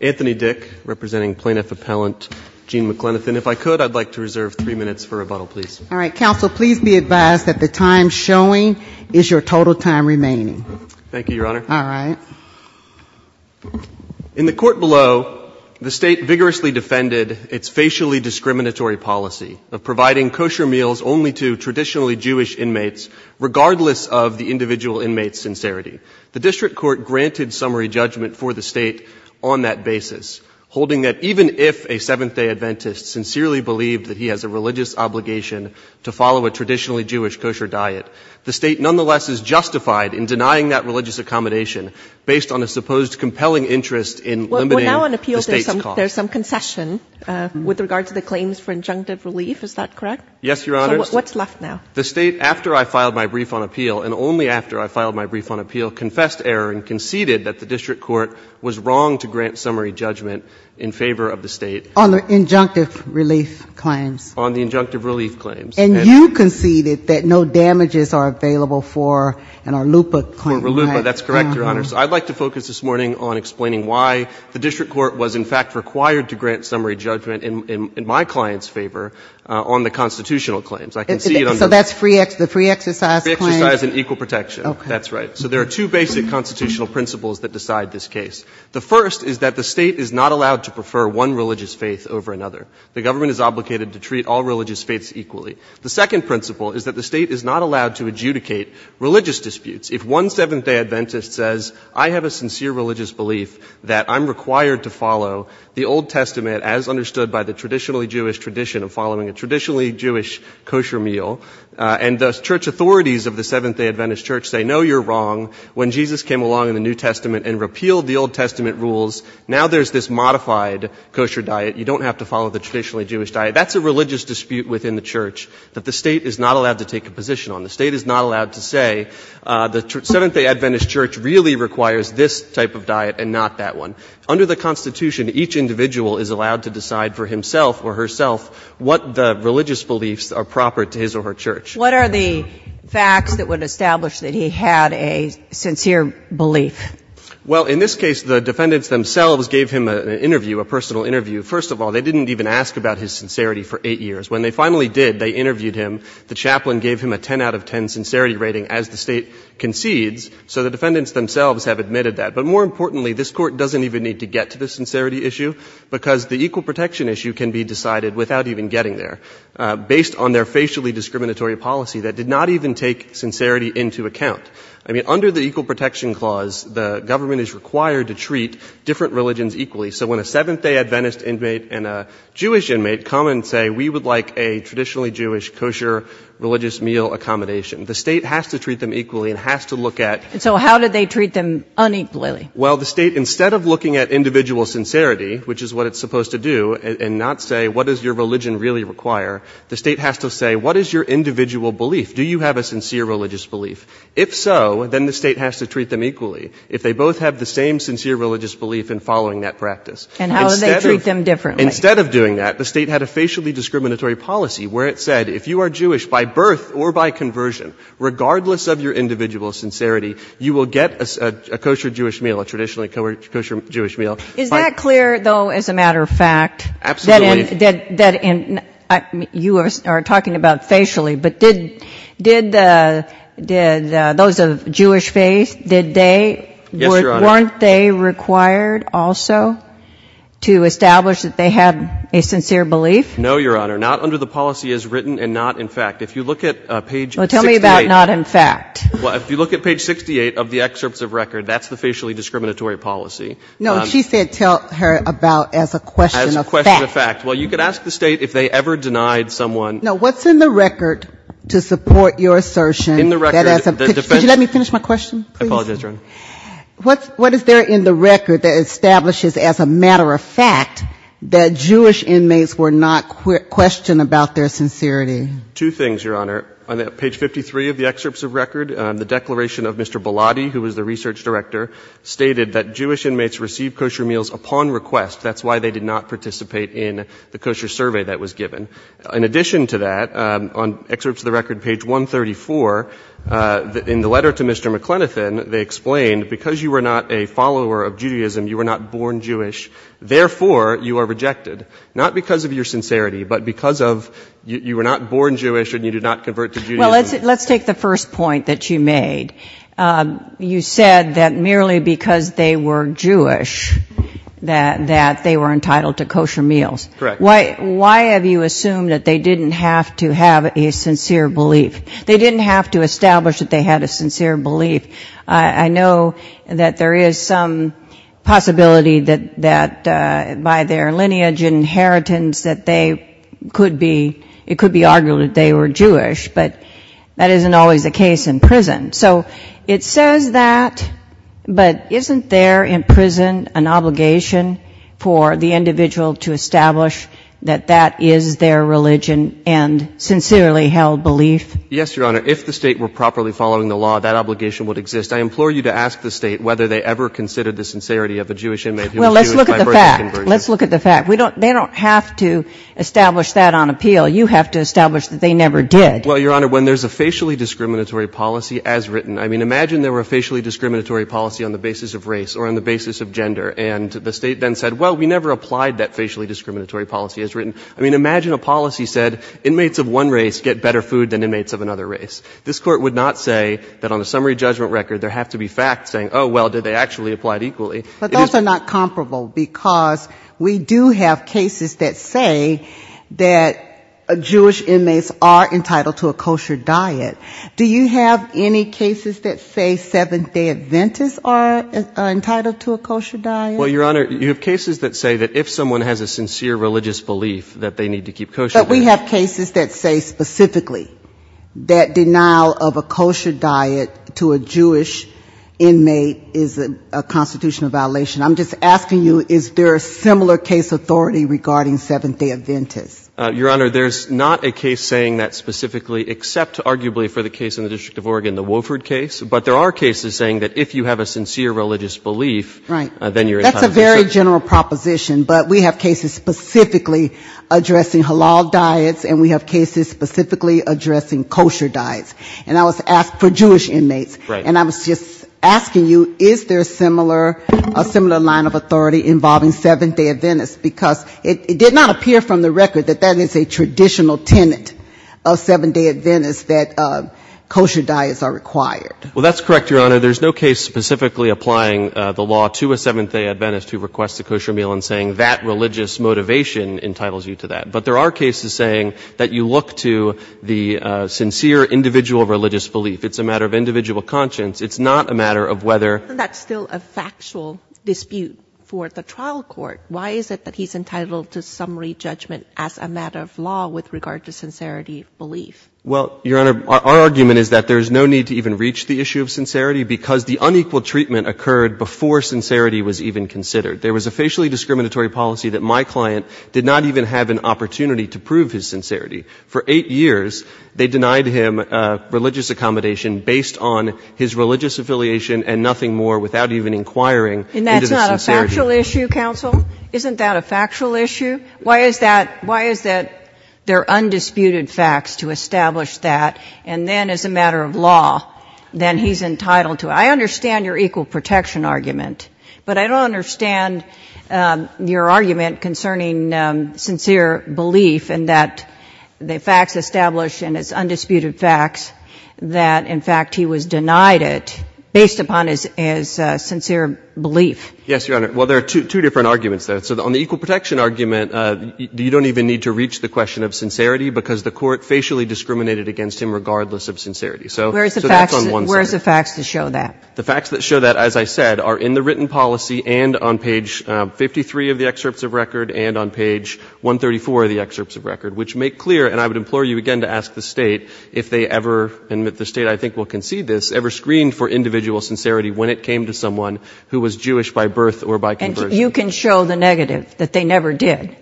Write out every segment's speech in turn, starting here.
Anthony Dick, representing Plaintiff Appellant Gene McLenithan. If I could, I'd like to reserve three minutes for rebuttal, please. All right. Counsel, please be advised that the time showing is your total time remaining. Thank you, Your Honor. All right. In the court below, the State vigorously defended its facially discriminatory policy of providing kosher meals only to traditionally Jewish inmates, regardless of the individual inmate's sincerity. The District Court granted summary judgment for the State on that basis, holding that even if a Seventh-day Adventist sincerely believed that he has a religious obligation to follow a traditionally Jewish kosher diet, the State nonetheless is justified in denying that religious accommodation based on a supposed compelling interest in limiting the State's costs. Well, we're now on appeal. There's some concession with regard to the claims for injunctive relief. Is that correct? Yes, Your Honor. So what's left now? The State, after I filed my brief on appeal, and only after I filed my brief on appeal, confessed error and conceded that the District Court was wrong to grant summary judgment in favor of the State. On the injunctive relief claims? On the injunctive relief claims. And you conceded that no damages are available for an Arlupa claim, right? For Arlupa, that's correct, Your Honor. So I'd like to focus this morning on explaining why the District Court was, in fact, required to grant summary judgment in my client's favor on the constitutional claims. So that's the free exercise claim? Free exercise and equal protection. Okay. That's right. So there are two basic constitutional principles that decide this case. The first is that the State is not allowed to prefer one religious faith over another. The government is obligated to treat all religious faiths equally. The second principle is that the State is not allowed to adjudicate religious disputes. If one Seventh-day Adventist says, I have a sincere religious belief that I'm required to follow the Old Testament as understood by the traditionally Jewish tradition of following a traditionally Jewish kosher meal, and the church authorities of the Seventh-day Adventist Church say, no, you're wrong. When Jesus came along in the New Testament and repealed the Old Testament rules, now there's this modified kosher diet. You don't have to follow the traditionally Jewish diet. That's a religious dispute within the church that the State is not allowed to take a position on. The State is not allowed to say the Seventh-day Adventist Church really requires this type of diet and not that one. Under the Constitution, each individual is allowed to decide for himself or herself what the religious beliefs are proper to his or her church. What are the facts that would establish that he had a sincere belief? Well, in this case, the defendants themselves gave him an interview, a personal interview. First of all, they didn't even ask about his sincerity for eight years. When they finally did, they interviewed him. The chaplain gave him a 10 out of 10 sincerity rating as the State concedes. So the defendants themselves have admitted that. But more importantly, this Court doesn't even need to get to the sincerity issue because the equal protection issue can be decided without even getting there based on their facially discriminatory policy that did not even take sincerity into account. I mean, under the Equal Protection Clause, the government is required to treat different religions equally. So when a Seventh-day Adventist inmate and a Jewish inmate come and say we would like a traditionally Jewish kosher religious meal accommodation, the State has to treat them equally and has to look at — And so how did they treat them unequally? Well, the State, instead of looking at individual sincerity, which is what it's supposed to do, and not say what does your religion really require, the State has to say what is your individual belief? Do you have a sincere religious belief? If so, then the State has to treat them equally if they both have the same sincere religious belief in following that practice. And how do they treat them differently? Instead of doing that, the State had a facially discriminatory policy where it said if you are Jewish by birth or by conversion, regardless of your individual sincerity, you will get a kosher Jewish meal, a traditionally kosher Jewish meal. Is that clear, though, as a matter of fact? Absolutely. That in — you are talking about facially. But did those of Jewish faith, did they — Yes, Your Honor. Weren't they required also to establish that they had a sincere belief? No, Your Honor. Not under the policy as written and not in fact. If you look at page 68 — Well, tell me about not in fact. Well, if you look at page 68 of the excerpts of record, that's the facially discriminatory policy. No, she said tell her about as a question of fact. As a question of fact. Well, you could ask the State if they ever denied someone — No, what's in the record to support your assertion — In the record — Could you let me finish my question, please? I apologize, Your Honor. What is there in the record that establishes as a matter of fact that Jewish inmates were not questioned about their sincerity? Two things, Your Honor. On page 53 of the excerpts of record, the declaration of Mr. Bilotti, who was the research director, stated that Jewish inmates received kosher meals upon request. That's why they did not participate in the kosher survey that was given. In addition to that, on excerpts of the record, page 134, in the letter to Mr. McLenathan, they explained because you were not a follower of Judaism, you were not born Jewish, therefore you are rejected, not because of your sincerity, but because you were not born Jewish and you did not convert to Judaism. Well, let's take the first point that you made. You said that merely because they were Jewish that they were entitled to kosher meals. Correct. Why have you assumed that they didn't have to have a sincere belief? They didn't have to establish that they had a sincere belief. I know that there is some possibility that by their lineage and inheritance that they could be, it could be argued that they were Jewish, but that isn't always the case in prison. So it says that, but isn't there in prison an obligation for the individual to establish that that is their religion and sincerely held belief? Yes, Your Honor. If the State were properly following the law, that obligation would exist. I implore you to ask the State whether they ever considered the sincerity of a Jewish inmate who was Jewish by birth and conversion. Well, let's look at the fact. Let's look at the fact. They don't have to establish that on appeal. You have to establish that they never did. Well, Your Honor, when there's a facially discriminatory policy as written, I mean, imagine there were a facially discriminatory policy on the basis of race or on the basis of gender, I mean, imagine a policy said inmates of one race get better food than inmates of another race. This Court would not say that on a summary judgment record there have to be facts saying, oh, well, did they actually apply it equally. But those are not comparable, because we do have cases that say that Jewish inmates are entitled to a kosher diet. Do you have any cases that say Seventh-day Adventists are entitled to a kosher diet? Well, Your Honor, you have cases that say that if someone has a sincere religious belief that they need to keep kosher diet. But we have cases that say specifically that denial of a kosher diet to a Jewish inmate is a constitutional violation. I'm just asking you, is there a similar case authority regarding Seventh-day Adventists? Your Honor, there's not a case saying that specifically, except arguably for the case in the District of Oregon, the Wofford case. But there are cases saying that if you have a sincere religious belief, then you're entitled to a kosher diet. Well, that's a very general proposition, but we have cases specifically addressing halal diets, and we have cases specifically addressing kosher diets. And I was asked for Jewish inmates. And I was just asking you, is there a similar line of authority involving Seventh-day Adventists? Because it did not appear from the record that that is a traditional tenet of Seventh-day Adventists, that kosher diets are required. Well, that's correct, Your Honor. Your Honor, there's no case specifically applying the law to a Seventh-day Adventist who requests a kosher meal and saying that religious motivation entitles you to that. But there are cases saying that you look to the sincere individual religious belief. It's a matter of individual conscience. It's not a matter of whether — That's still a factual dispute for the trial court. Why is it that he's entitled to summary judgment as a matter of law with regard to sincerity belief? Well, Your Honor, our argument is that there's no need to even reach the issue of sincerity because the unequal treatment occurred before sincerity was even considered. There was a facially discriminatory policy that my client did not even have an opportunity to prove his sincerity. For eight years, they denied him religious accommodation based on his religious affiliation and nothing more without even inquiring into the sincerity. And that's not a factual issue, counsel? Isn't that a factual issue? Why is that — why is that there are undisputed facts to establish that, and then as a matter of law, then he's entitled to it? I understand your equal protection argument, but I don't understand your argument concerning sincere belief and that the facts established in its undisputed facts that, in fact, he was denied it based upon his sincere belief. Yes, Your Honor. Well, there are two different arguments there. So on the equal protection argument, you don't even need to reach the question of sincerity because the court facially discriminated against him regardless of sincerity. So that's on one side. Where's the facts that show that? The facts that show that, as I said, are in the written policy and on page 53 of the excerpts of record and on page 134 of the excerpts of record, which make clear, and I would implore you again to ask the State if they ever — and the State, I think, will concede this — ever screened for individual sincerity when it came to someone who was Jewish by birth or by conversion. And you can show the negative, that they never did?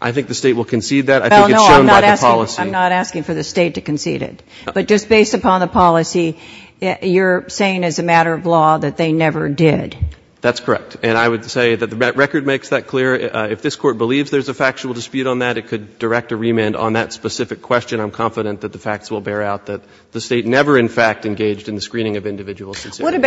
I think the State will concede that. I think it's shown by the policy. Well, no, I'm not asking for the State to concede it. But just based upon the policy, you're saying as a matter of law that they never did? That's correct. And I would say that the record makes that clear. If this Court believes there's a factual dispute on that, it could direct a remand on that specific question. I'm confident that the facts will bear out that the State never, in fact, engaged in the screening of individual sincerity.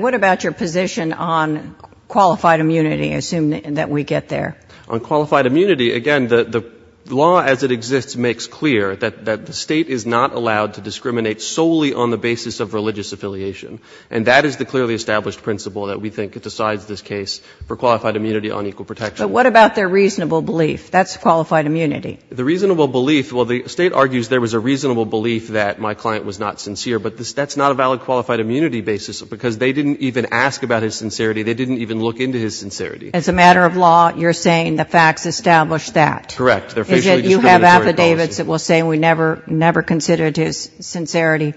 What about your position on qualified immunity, assuming that we get there? On qualified immunity, again, the law as it exists makes clear that the State is not allowed to discriminate solely on the basis of religious affiliation. And that is the clearly established principle that we think decides this case for qualified immunity on equal protection. But what about their reasonable belief? That's qualified immunity. The reasonable belief — well, the State argues there was a reasonable belief that my client was not sincere, but that's not a valid qualified immunity basis because they didn't even ask about his sincerity. They didn't even look into his sincerity. As a matter of law, you're saying the facts establish that? Correct. You have affidavits that will say we never considered his sincerity.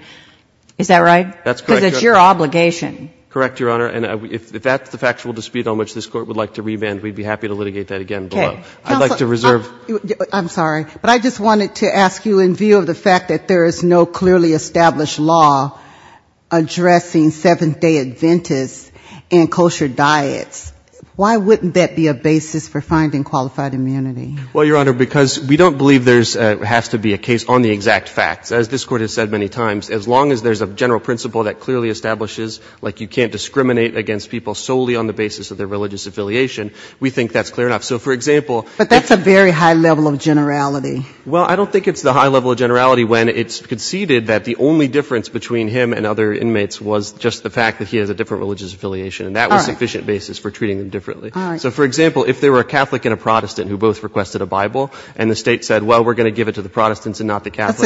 Is that right? That's correct, Your Honor. Because it's your obligation. Correct, Your Honor. And if that's the factual dispute on which this Court would like to remand, we'd be happy to litigate that again below. Okay. I'd like to reserve — I'm sorry. But I just wanted to ask you in view of the fact that there is no clearly established law addressing Seventh-day Adventists and kosher diets, why wouldn't that be a basis for finding qualified immunity? Well, Your Honor, because we don't believe there has to be a case on the exact facts. As this Court has said many times, as long as there's a general principle that clearly establishes, like you can't discriminate against people solely on the basis of their religious affiliation, we think that's clear enough. So, for example — But that's a very high level of generality. Well, I don't think it's the high level of generality when it's conceded that the only difference between him and other inmates was just the fact that he has a different religious affiliation, and that was a sufficient basis for treating them differently. All right. So, for example, if there were a Catholic and a Protestant who both requested a Bible, and the State said, well, we're going to give it to the Protestants and not the Catholics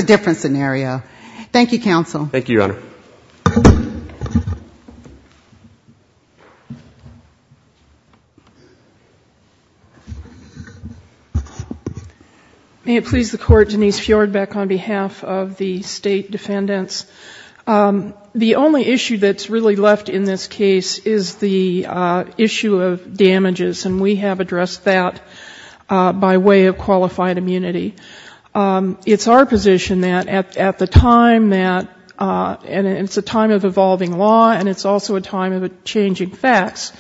— Thank you, counsel. Thank you, Your Honor. May it please the Court, Denise Fjord back on behalf of the State defendants. The only issue that's really left in this case is the issue of damages, and we have addressed that by way of qualified immunity. It's our position that at the time that — and it's a time of evolving law, and it's also a time of changing facts.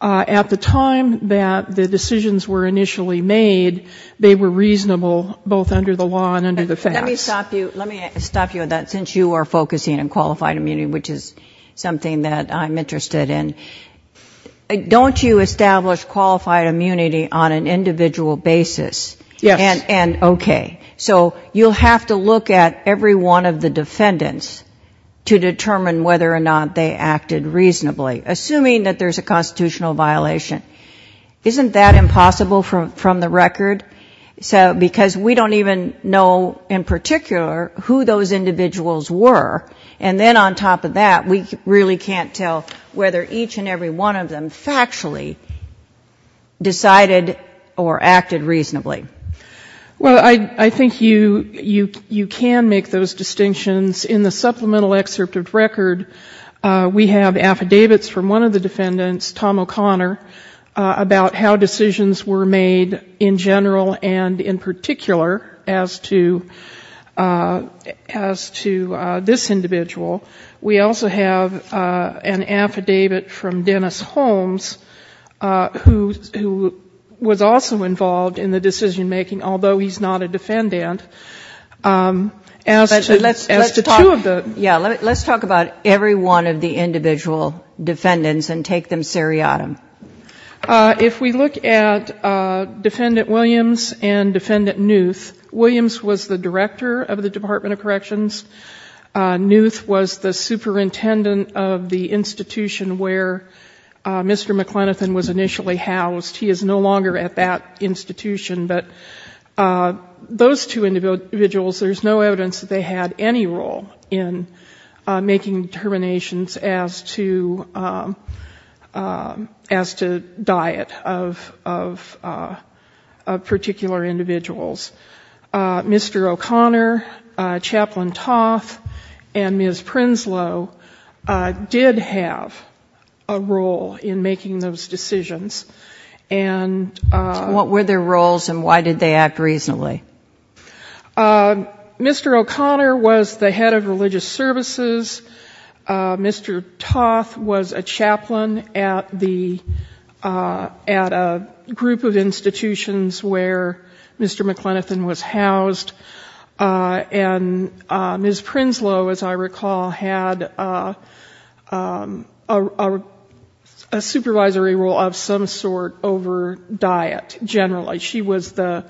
At the time that the decisions were initially made, they were reasonable both under the law and under the facts. Let me stop you on that, since you are focusing on qualified immunity, which is something that I'm interested in. Don't you establish qualified immunity on an individual basis? Yes. And okay. So you'll have to look at every one of the defendants to determine whether or not they acted reasonably, assuming that there's a constitutional violation. Isn't that impossible from the record? Because we don't even know in particular who those individuals were. And then on top of that, we really can't tell whether each and every one of them factually decided or acted reasonably. Well, I think you can make those distinctions. In the supplemental excerpt of record, we have affidavits from one of the defendants, Tom O'Connor, about how decisions were made in general and in particular as to this individual. We also have an affidavit from Dennis Holmes, who was also involved in the decision-making, although he's not a defendant. But let's talk about every one of the individual defendants and take them seriatim. If we look at Defendant Williams and Defendant Newth, Williams was the director of the Department of Corrections. Newth was the superintendent of the institution where Mr. McLenathan was initially housed. He is no longer at that institution. But those two individuals, there's no evidence that they had any role in making determinations as to diet of particular individuals. Mr. O'Connor, Chaplain Toth, and Ms. Prinslow did have a role in making those decisions. What were their roles and why did they act reasonably? Mr. O'Connor was the head of religious services. Mr. Toth was a chaplain at a group of institutions where Mr. McLenathan was housed. And Ms. Prinslow, as I recall, had a supervisory role of some sort over diet generally. She was the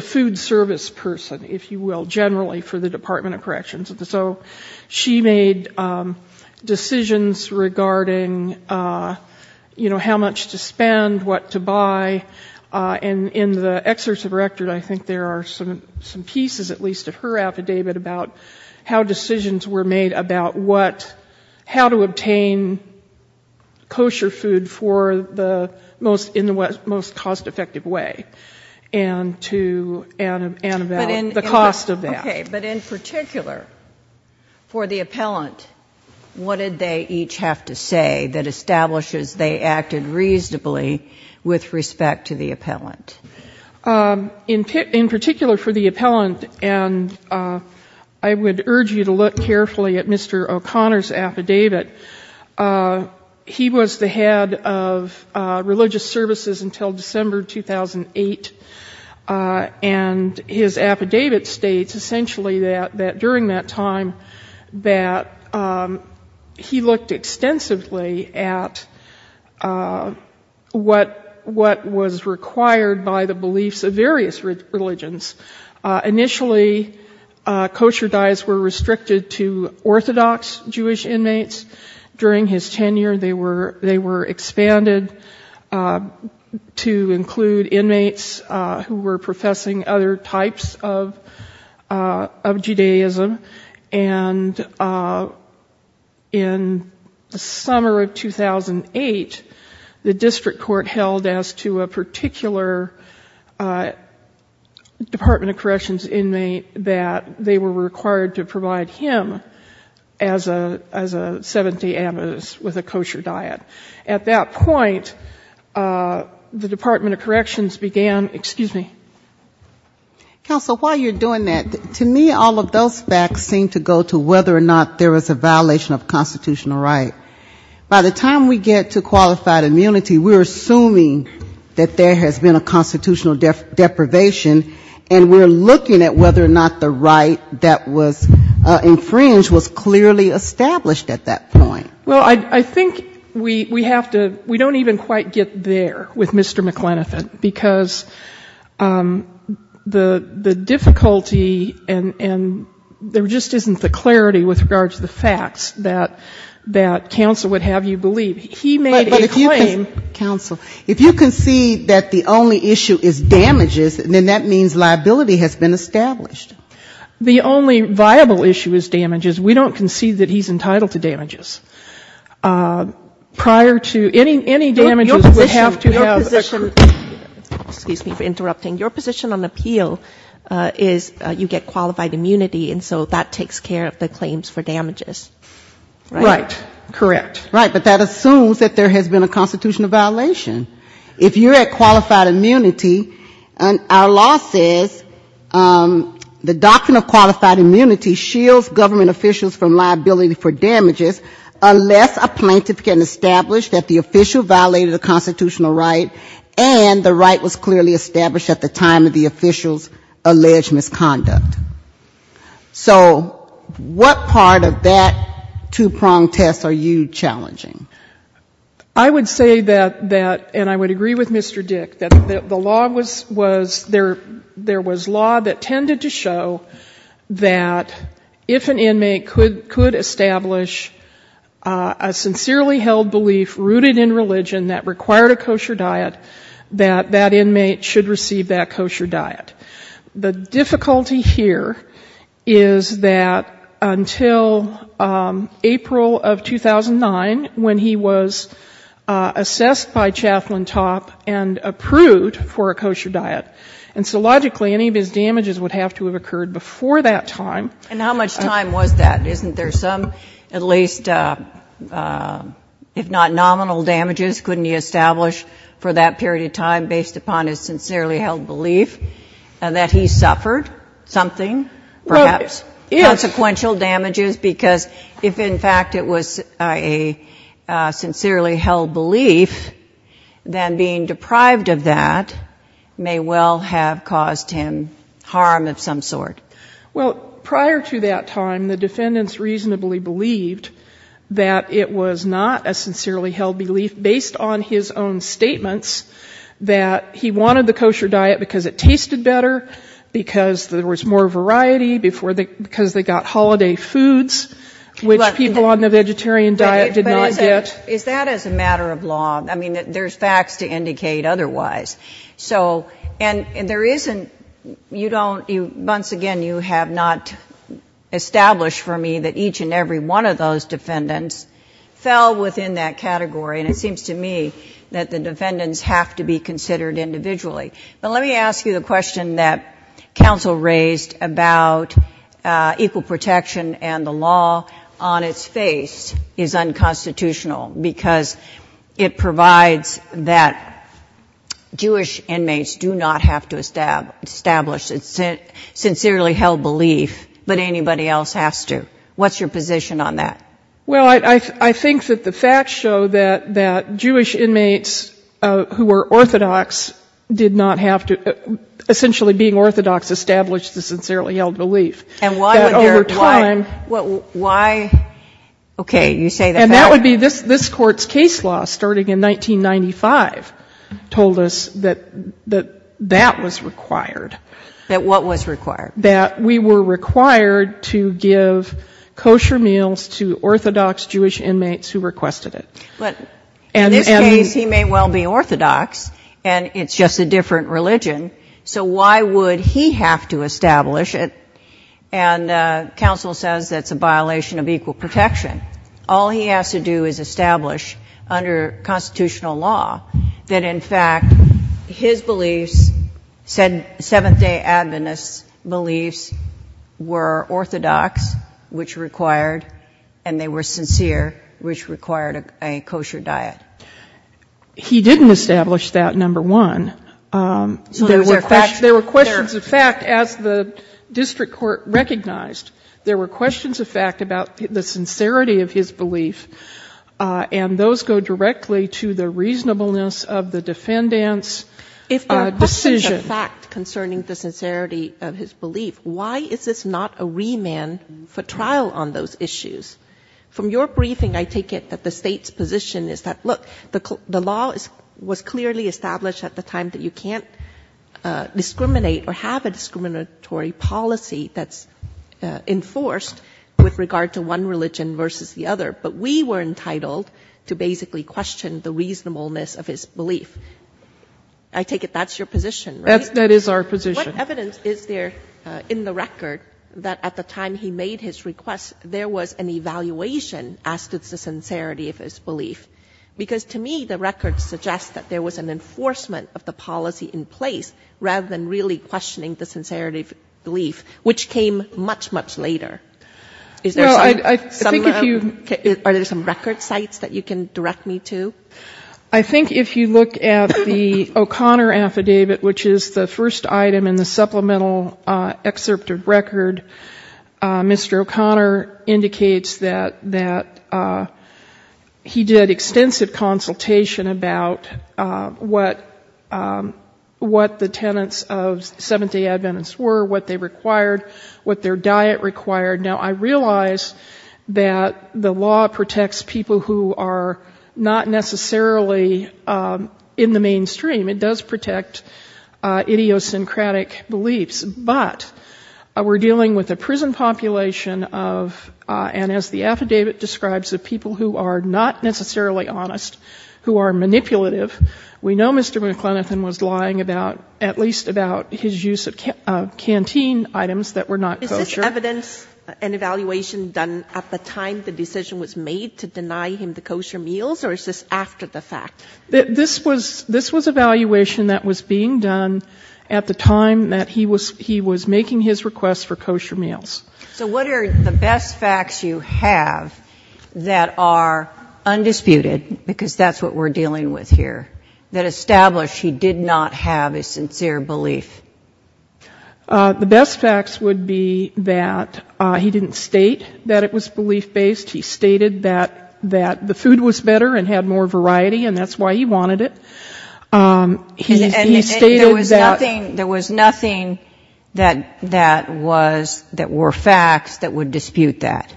food service person, if you will, generally for the Department of Corrections. So she made decisions regarding, you know, how much to spend, what to buy. And in the excerpts of her record, I think there are some pieces, at least of her affidavit, about how decisions were made about how to obtain kosher food in the most cost-effective way and about the cost of that. But in particular, for the appellant, what did they each have to say that establishes they acted reasonably with respect to the appellant? In particular for the appellant, and I would urge you to look carefully at Mr. O'Connor's affidavit, he was the head of religious services until December 2008. And his affidavit states essentially that during that time that he looked extensively at what was required by the beliefs of various religions. Initially, kosher diets were restricted to Orthodox Jewish inmates. During his tenure, they were expanded to include inmates who were professing other types of Judaism. And in the summer of 2008, the district court held as to a particular Department of Corrections inmate that they were required to provide him as a Seventh-day Adventist with a kosher diet. At that point, the Department of Corrections began, excuse me. Counsel, while you're doing that, to me all of those facts seem to go to whether or not there was a violation of constitutional right. By the time we get to qualified immunity, we're assuming that there has been a constitutional deprivation, and we're looking at whether or not the right that was infringed was clearly established at that point. Well, I think we have to, we don't even quite get there with Mr. McLenathan. Because the difficulty and there just isn't the clarity with regards to the facts that counsel would have you believe. He made a claim. Counsel, if you concede that the only issue is damages, then that means liability has been established. The only viable issue is damages. We don't concede that he's entitled to damages. Prior to any damages, we have to have a group. Your position, excuse me for interrupting, your position on appeal is you get qualified immunity, and so that takes care of the claims for damages. Right. Correct. Right. But that assumes that there has been a constitutional violation. If you're at qualified immunity, our law says the doctrine of qualified immunity shields government officials from liability for damages, unless a plaintiff can establish that the official violated a constitutional right and the right was clearly established at the time of the official's alleged misconduct. So what part of that two-pronged test are you challenging? I would say that, and I would agree with Mr. Dick, that the law was, there was law that tended to show that if an inmate could establish a sincerely held belief rooted in religion that required a kosher diet, that that inmate should receive that kosher diet. The difficulty here is that until April of 2009, when he was assessed by Chaplain Topp and approved for a kosher diet, and so logically any of his damages would have to have occurred before that time. And how much time was that? Isn't there some at least, if not nominal damages, couldn't he establish for that period of time based upon his sincerely held belief? And that he suffered something, perhaps, consequential damages? Because if, in fact, it was a sincerely held belief, then being deprived of that may well have caused him harm of some sort. Well, prior to that time, the defendants reasonably believed that it was not a sincerely held belief based on his own statements that he wanted the kosher diet because it tasted better, because there was more variety, because they got holiday foods, which people on the vegetarian diet did not get. But is that as a matter of law? I mean, there's facts to indicate otherwise. So, and there isn't, you don't, once again, you have not established for me that each and every one of those defendants fell within that category. But let me ask you the question that counsel raised about equal protection and the law on its face is unconstitutional, because it provides that Jewish inmates do not have to establish a sincerely held belief, but anybody else has to. What's your position on that? Well, I think that the facts show that Jewish inmates who were orthodox did not have to, essentially being orthodox, establish the sincerely held belief. And why would there, why, okay, you say that. And that would be this Court's case law, starting in 1995, told us that that was required. That what was required? That we were required to give kosher meals to orthodox Jewish inmates who requested it. But in this case, he may well be orthodox, and it's just a different religion, so why would he have to establish it? And counsel says that's a violation of equal protection. All he has to do is establish under constitutional law that, in fact, his beliefs, said Seventh-Day Adventists' beliefs are orthodox, which required, and they were sincere, which required a kosher diet. He didn't establish that, number one. There were questions of fact, as the district court recognized. There were questions of fact about the sincerity of his belief, and those go directly to the reasonableness of the defendant's decision. If there are questions of fact concerning the sincerity of his belief, why is this not a remand for trial on those issues? From your briefing, I take it that the State's position is that, look, the law was clearly established at the time that you can't discriminate or have a discriminatory policy that's enforced with regard to one religion versus the other. But we were entitled to basically question the reasonableness of his belief. I take it that's your position, right? That is our position. What evidence is there in the record that at the time he made his request, there was an evaluation as to the sincerity of his belief? Because to me, the record suggests that there was an enforcement of the policy in place, rather than really questioning the sincerity of his belief, which came much, much later. Is there some record sites that you can direct me to? I think if you look at the O'Connor affidavit, which is the first item in the supplemental excerpt of record, Mr. O'Connor indicates that he did extensive consultation about what the tenets of Seventh-day Adventists were, what they required, what their diet required. Now, I realize that the law protects people who are not necessarily in the mainstream. It does protect idiosyncratic beliefs. But we're dealing with a prison population of, and as the affidavit describes, of people who are not necessarily honest, who are manipulative. We know Mr. McLenathan was lying about, at least about his use of canteen items that were not kosher. Is this evidence, an evaluation done at the time the decision was made to deny him the kosher meals? Or is this after the fact? This was evaluation that was being done at the time that he was making his request for kosher meals. So what are the best facts you have that are undisputed? Because that's what we're dealing with here, that establish he did not have a sincere belief. The best facts would be that he didn't state that it was belief-based. He stated that the food was better and had more variety, and that's why he wanted it. And there was nothing that was, that were facts that would dispute that?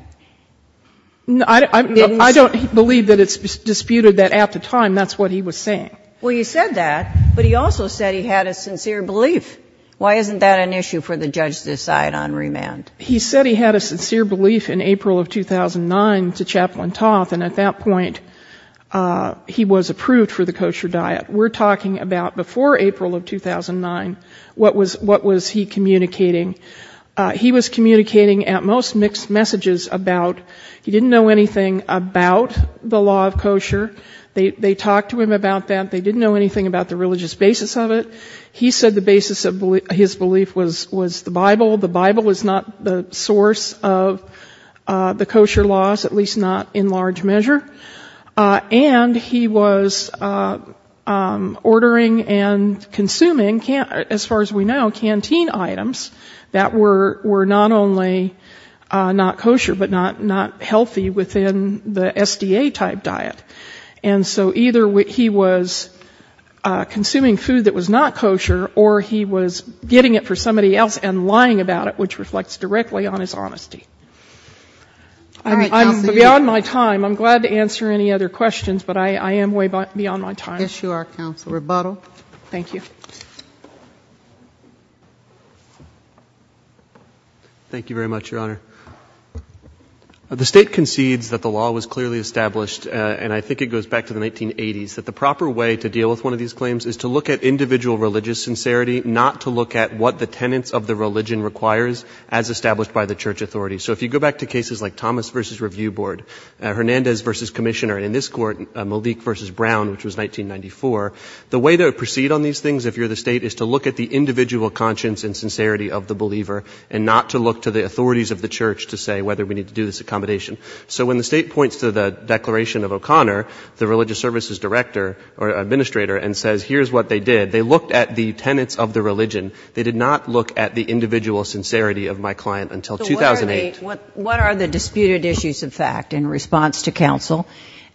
I don't believe that it's disputed that at the time that's what he was saying. Well, you said that, but he also said he had a sincere belief. Why isn't that an issue for the judge to decide on remand? He said he had a sincere belief in April of 2009 to Chaplain Toth, and at that point he was approved for the kosher diet. We're talking about before April of 2009. What was he communicating? He was communicating at most mixed messages about, he didn't know anything about the law of kosher. They talked to him about that. They didn't know anything about the religious basis of it. He said the basis of his belief was the Bible. The Bible is not the source of the kosher laws, at least not in large measure. And he was ordering and consuming, as far as we know, canteen items that were not only not kosher, but not healthy within the SDA-type diet. And so either he was consuming food that was not kosher, or he was getting it for somebody else and lying about it. Which reflects directly on his honesty. Beyond my time, I'm glad to answer any other questions, but I am way beyond my time. Yes, you are, counsel. Rebuttal. Thank you. Thank you very much, Your Honor. The State concedes that the law was clearly established, and I think it goes back to the 1980s, that the proper way to deal with one of these claims is to look at individual religious sincerity, not to look at what the tenets of the religion requires, as established by the church authorities. So if you go back to cases like Thomas v. Review Board, Hernandez v. Commissioner, and in this court, Malik v. Brown, which was 1994, the way to proceed on these things if you're the State is to look at the individual conscience and sincerity of the believer, and not to look to the authorities of the church to say whether we need to do this accommodation. So when the State points to the declaration of O'Connor, the religious services director or administrator, and says here's what they did, they looked at the tenets of the religion. They did not look at the individual sincerity of my client until 2008. So what are the disputed issues of fact in response to counsel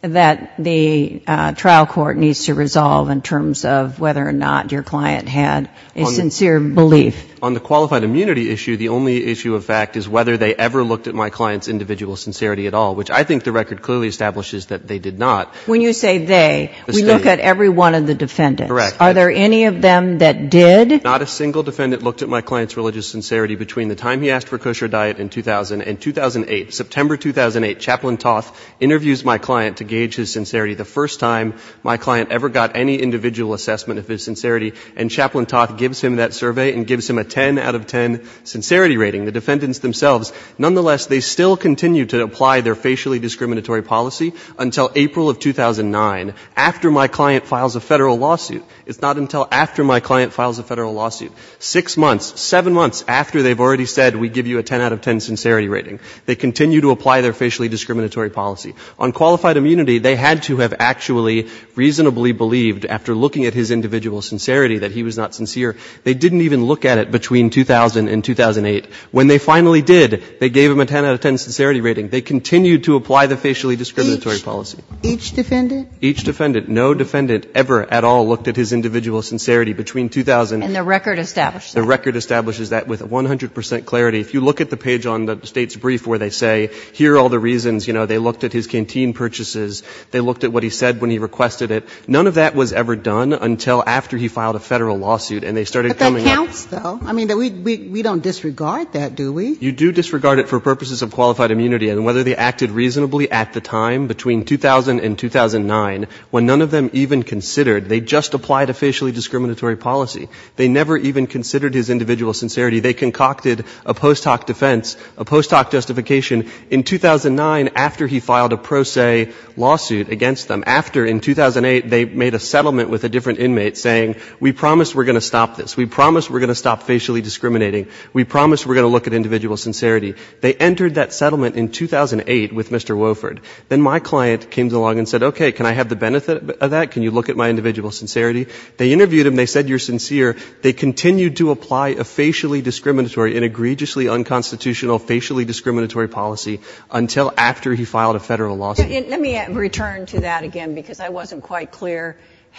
that the trial court needs to resolve in terms of whether or not your client had a sincere belief? On the qualified immunity issue, the only issue of fact is whether they ever looked at my client's individual sincerity at all, which I think the record clearly establishes that they did not. When you say they, we look at every one of the defendants. Correct. Are there any of them that did? Not a single defendant looked at my client's religious sincerity between the time he asked for kosher diet in 2000 and 2008. September 2008, Chaplain Toth interviews my client to gauge his sincerity. The first time my client ever got any individual assessment of his sincerity, and Chaplain Toth gives him that survey and gives him a 10 out of 10 sincerity rating. The defendants themselves, nonetheless, they still continue to apply their facially discriminatory policy until April of 2009, after my client files a Federal lawsuit. It's not until after my client files a Federal lawsuit. Six months, seven months after they've already said we give you a 10 out of 10 sincerity rating, they continue to apply their facially discriminatory policy. On qualified immunity, they had to have actually reasonably believed, after looking at his individual sincerity, that he was not sincere. They didn't even look at it between 2000 and 2008. When they finally did, they gave him a 10 out of 10 sincerity rating. They continued to apply the facially discriminatory policy. Each defendant? Each defendant. No defendant ever at all looked at his individual sincerity between 2000 and 2008. And the record establishes that? The record establishes that with 100 percent clarity. If you look at the page on the State's brief where they say here are all the reasons, you know, they looked at his canteen purchases. They looked at what he said when he requested it. None of that was ever done until after he filed a Federal lawsuit, and they started coming up. But that counts, though. I mean, we don't disregard that, do we? You do disregard it for purposes of qualified immunity. And whether they acted reasonably at the time, between 2000 and 2009, when none of them even considered, they just applied a facially discriminatory policy. They never even considered his individual sincerity. They concocted a post hoc defense, a post hoc justification in 2009 after he filed a pro se lawsuit against them. After, in 2008, they made a settlement with a different inmate saying we promise we're going to stop this. We promise we're going to stop facially discriminating. We promise we're going to look at individual sincerity. They entered that settlement in 2008 with Mr. Wofford. Then my client came along and said, okay, can I have the benefit of that? Can you look at my individual sincerity? They interviewed him. They said you're sincere. They continued to apply a facially discriminatory, an egregiously unconstitutional, facially discriminatory policy until after he filed a Federal lawsuit. Let me return to that again because I wasn't quite clear.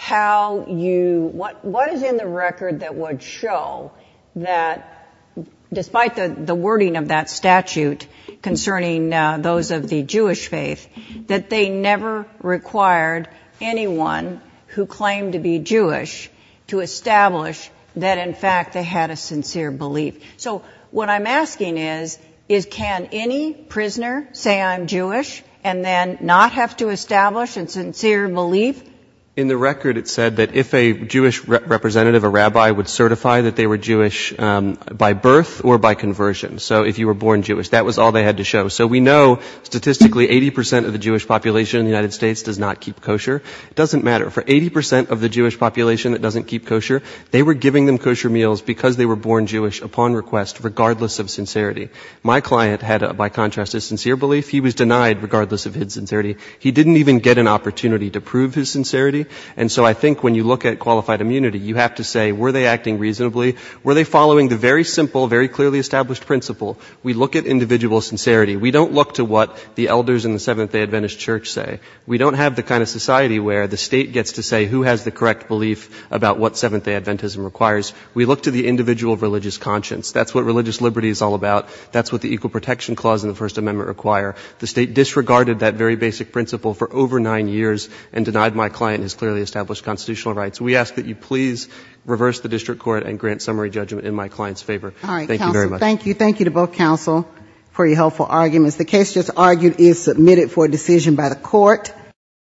What is in the record that would show that, despite the wording of that statute concerning those of the Jewish faith, that they never required anyone who claimed to be Jewish to establish that, in fact, they had a sincere belief? So what I'm asking is, is can any prisoner say I'm Jewish and then not have to establish a sincere belief? In the record it said that if a Jewish representative, a rabbi, would certify that they were Jewish by birth or by conversion, so if you were born Jewish, that was all they had to show. So we know statistically 80% of the Jewish population in the United States does not keep kosher. It doesn't matter. For 80% of the Jewish population that doesn't keep kosher, they were giving them kosher meals because they were born Jewish upon request, regardless of sincerity. My client had, by contrast, a sincere belief. He was denied, regardless of his sincerity. He didn't even get an opportunity to prove his sincerity. And so I think when you look at qualified immunity, you have to say, were they acting reasonably? Were they following the very simple, very clearly established principle? We look at individual sincerity. We don't look to what the elders in the Seventh-day Adventist Church say. We don't have the kind of society where the state gets to say who has the correct belief about what Seventh-day Adventism requires. We look to the individual religious conscience. That's what religious liberty is all about. That's what the Equal Protection Clause and the First Amendment require. The state disregarded that very basic principle for over nine years and denied my client his clearly established constitutional rights. We ask that you please reverse the district court and grant summary judgment in my client's favor. Thank you very much. All right, counsel, thank you. Thank you to both counsel for your helpful arguments. The case just argued is submitted for decision by the court.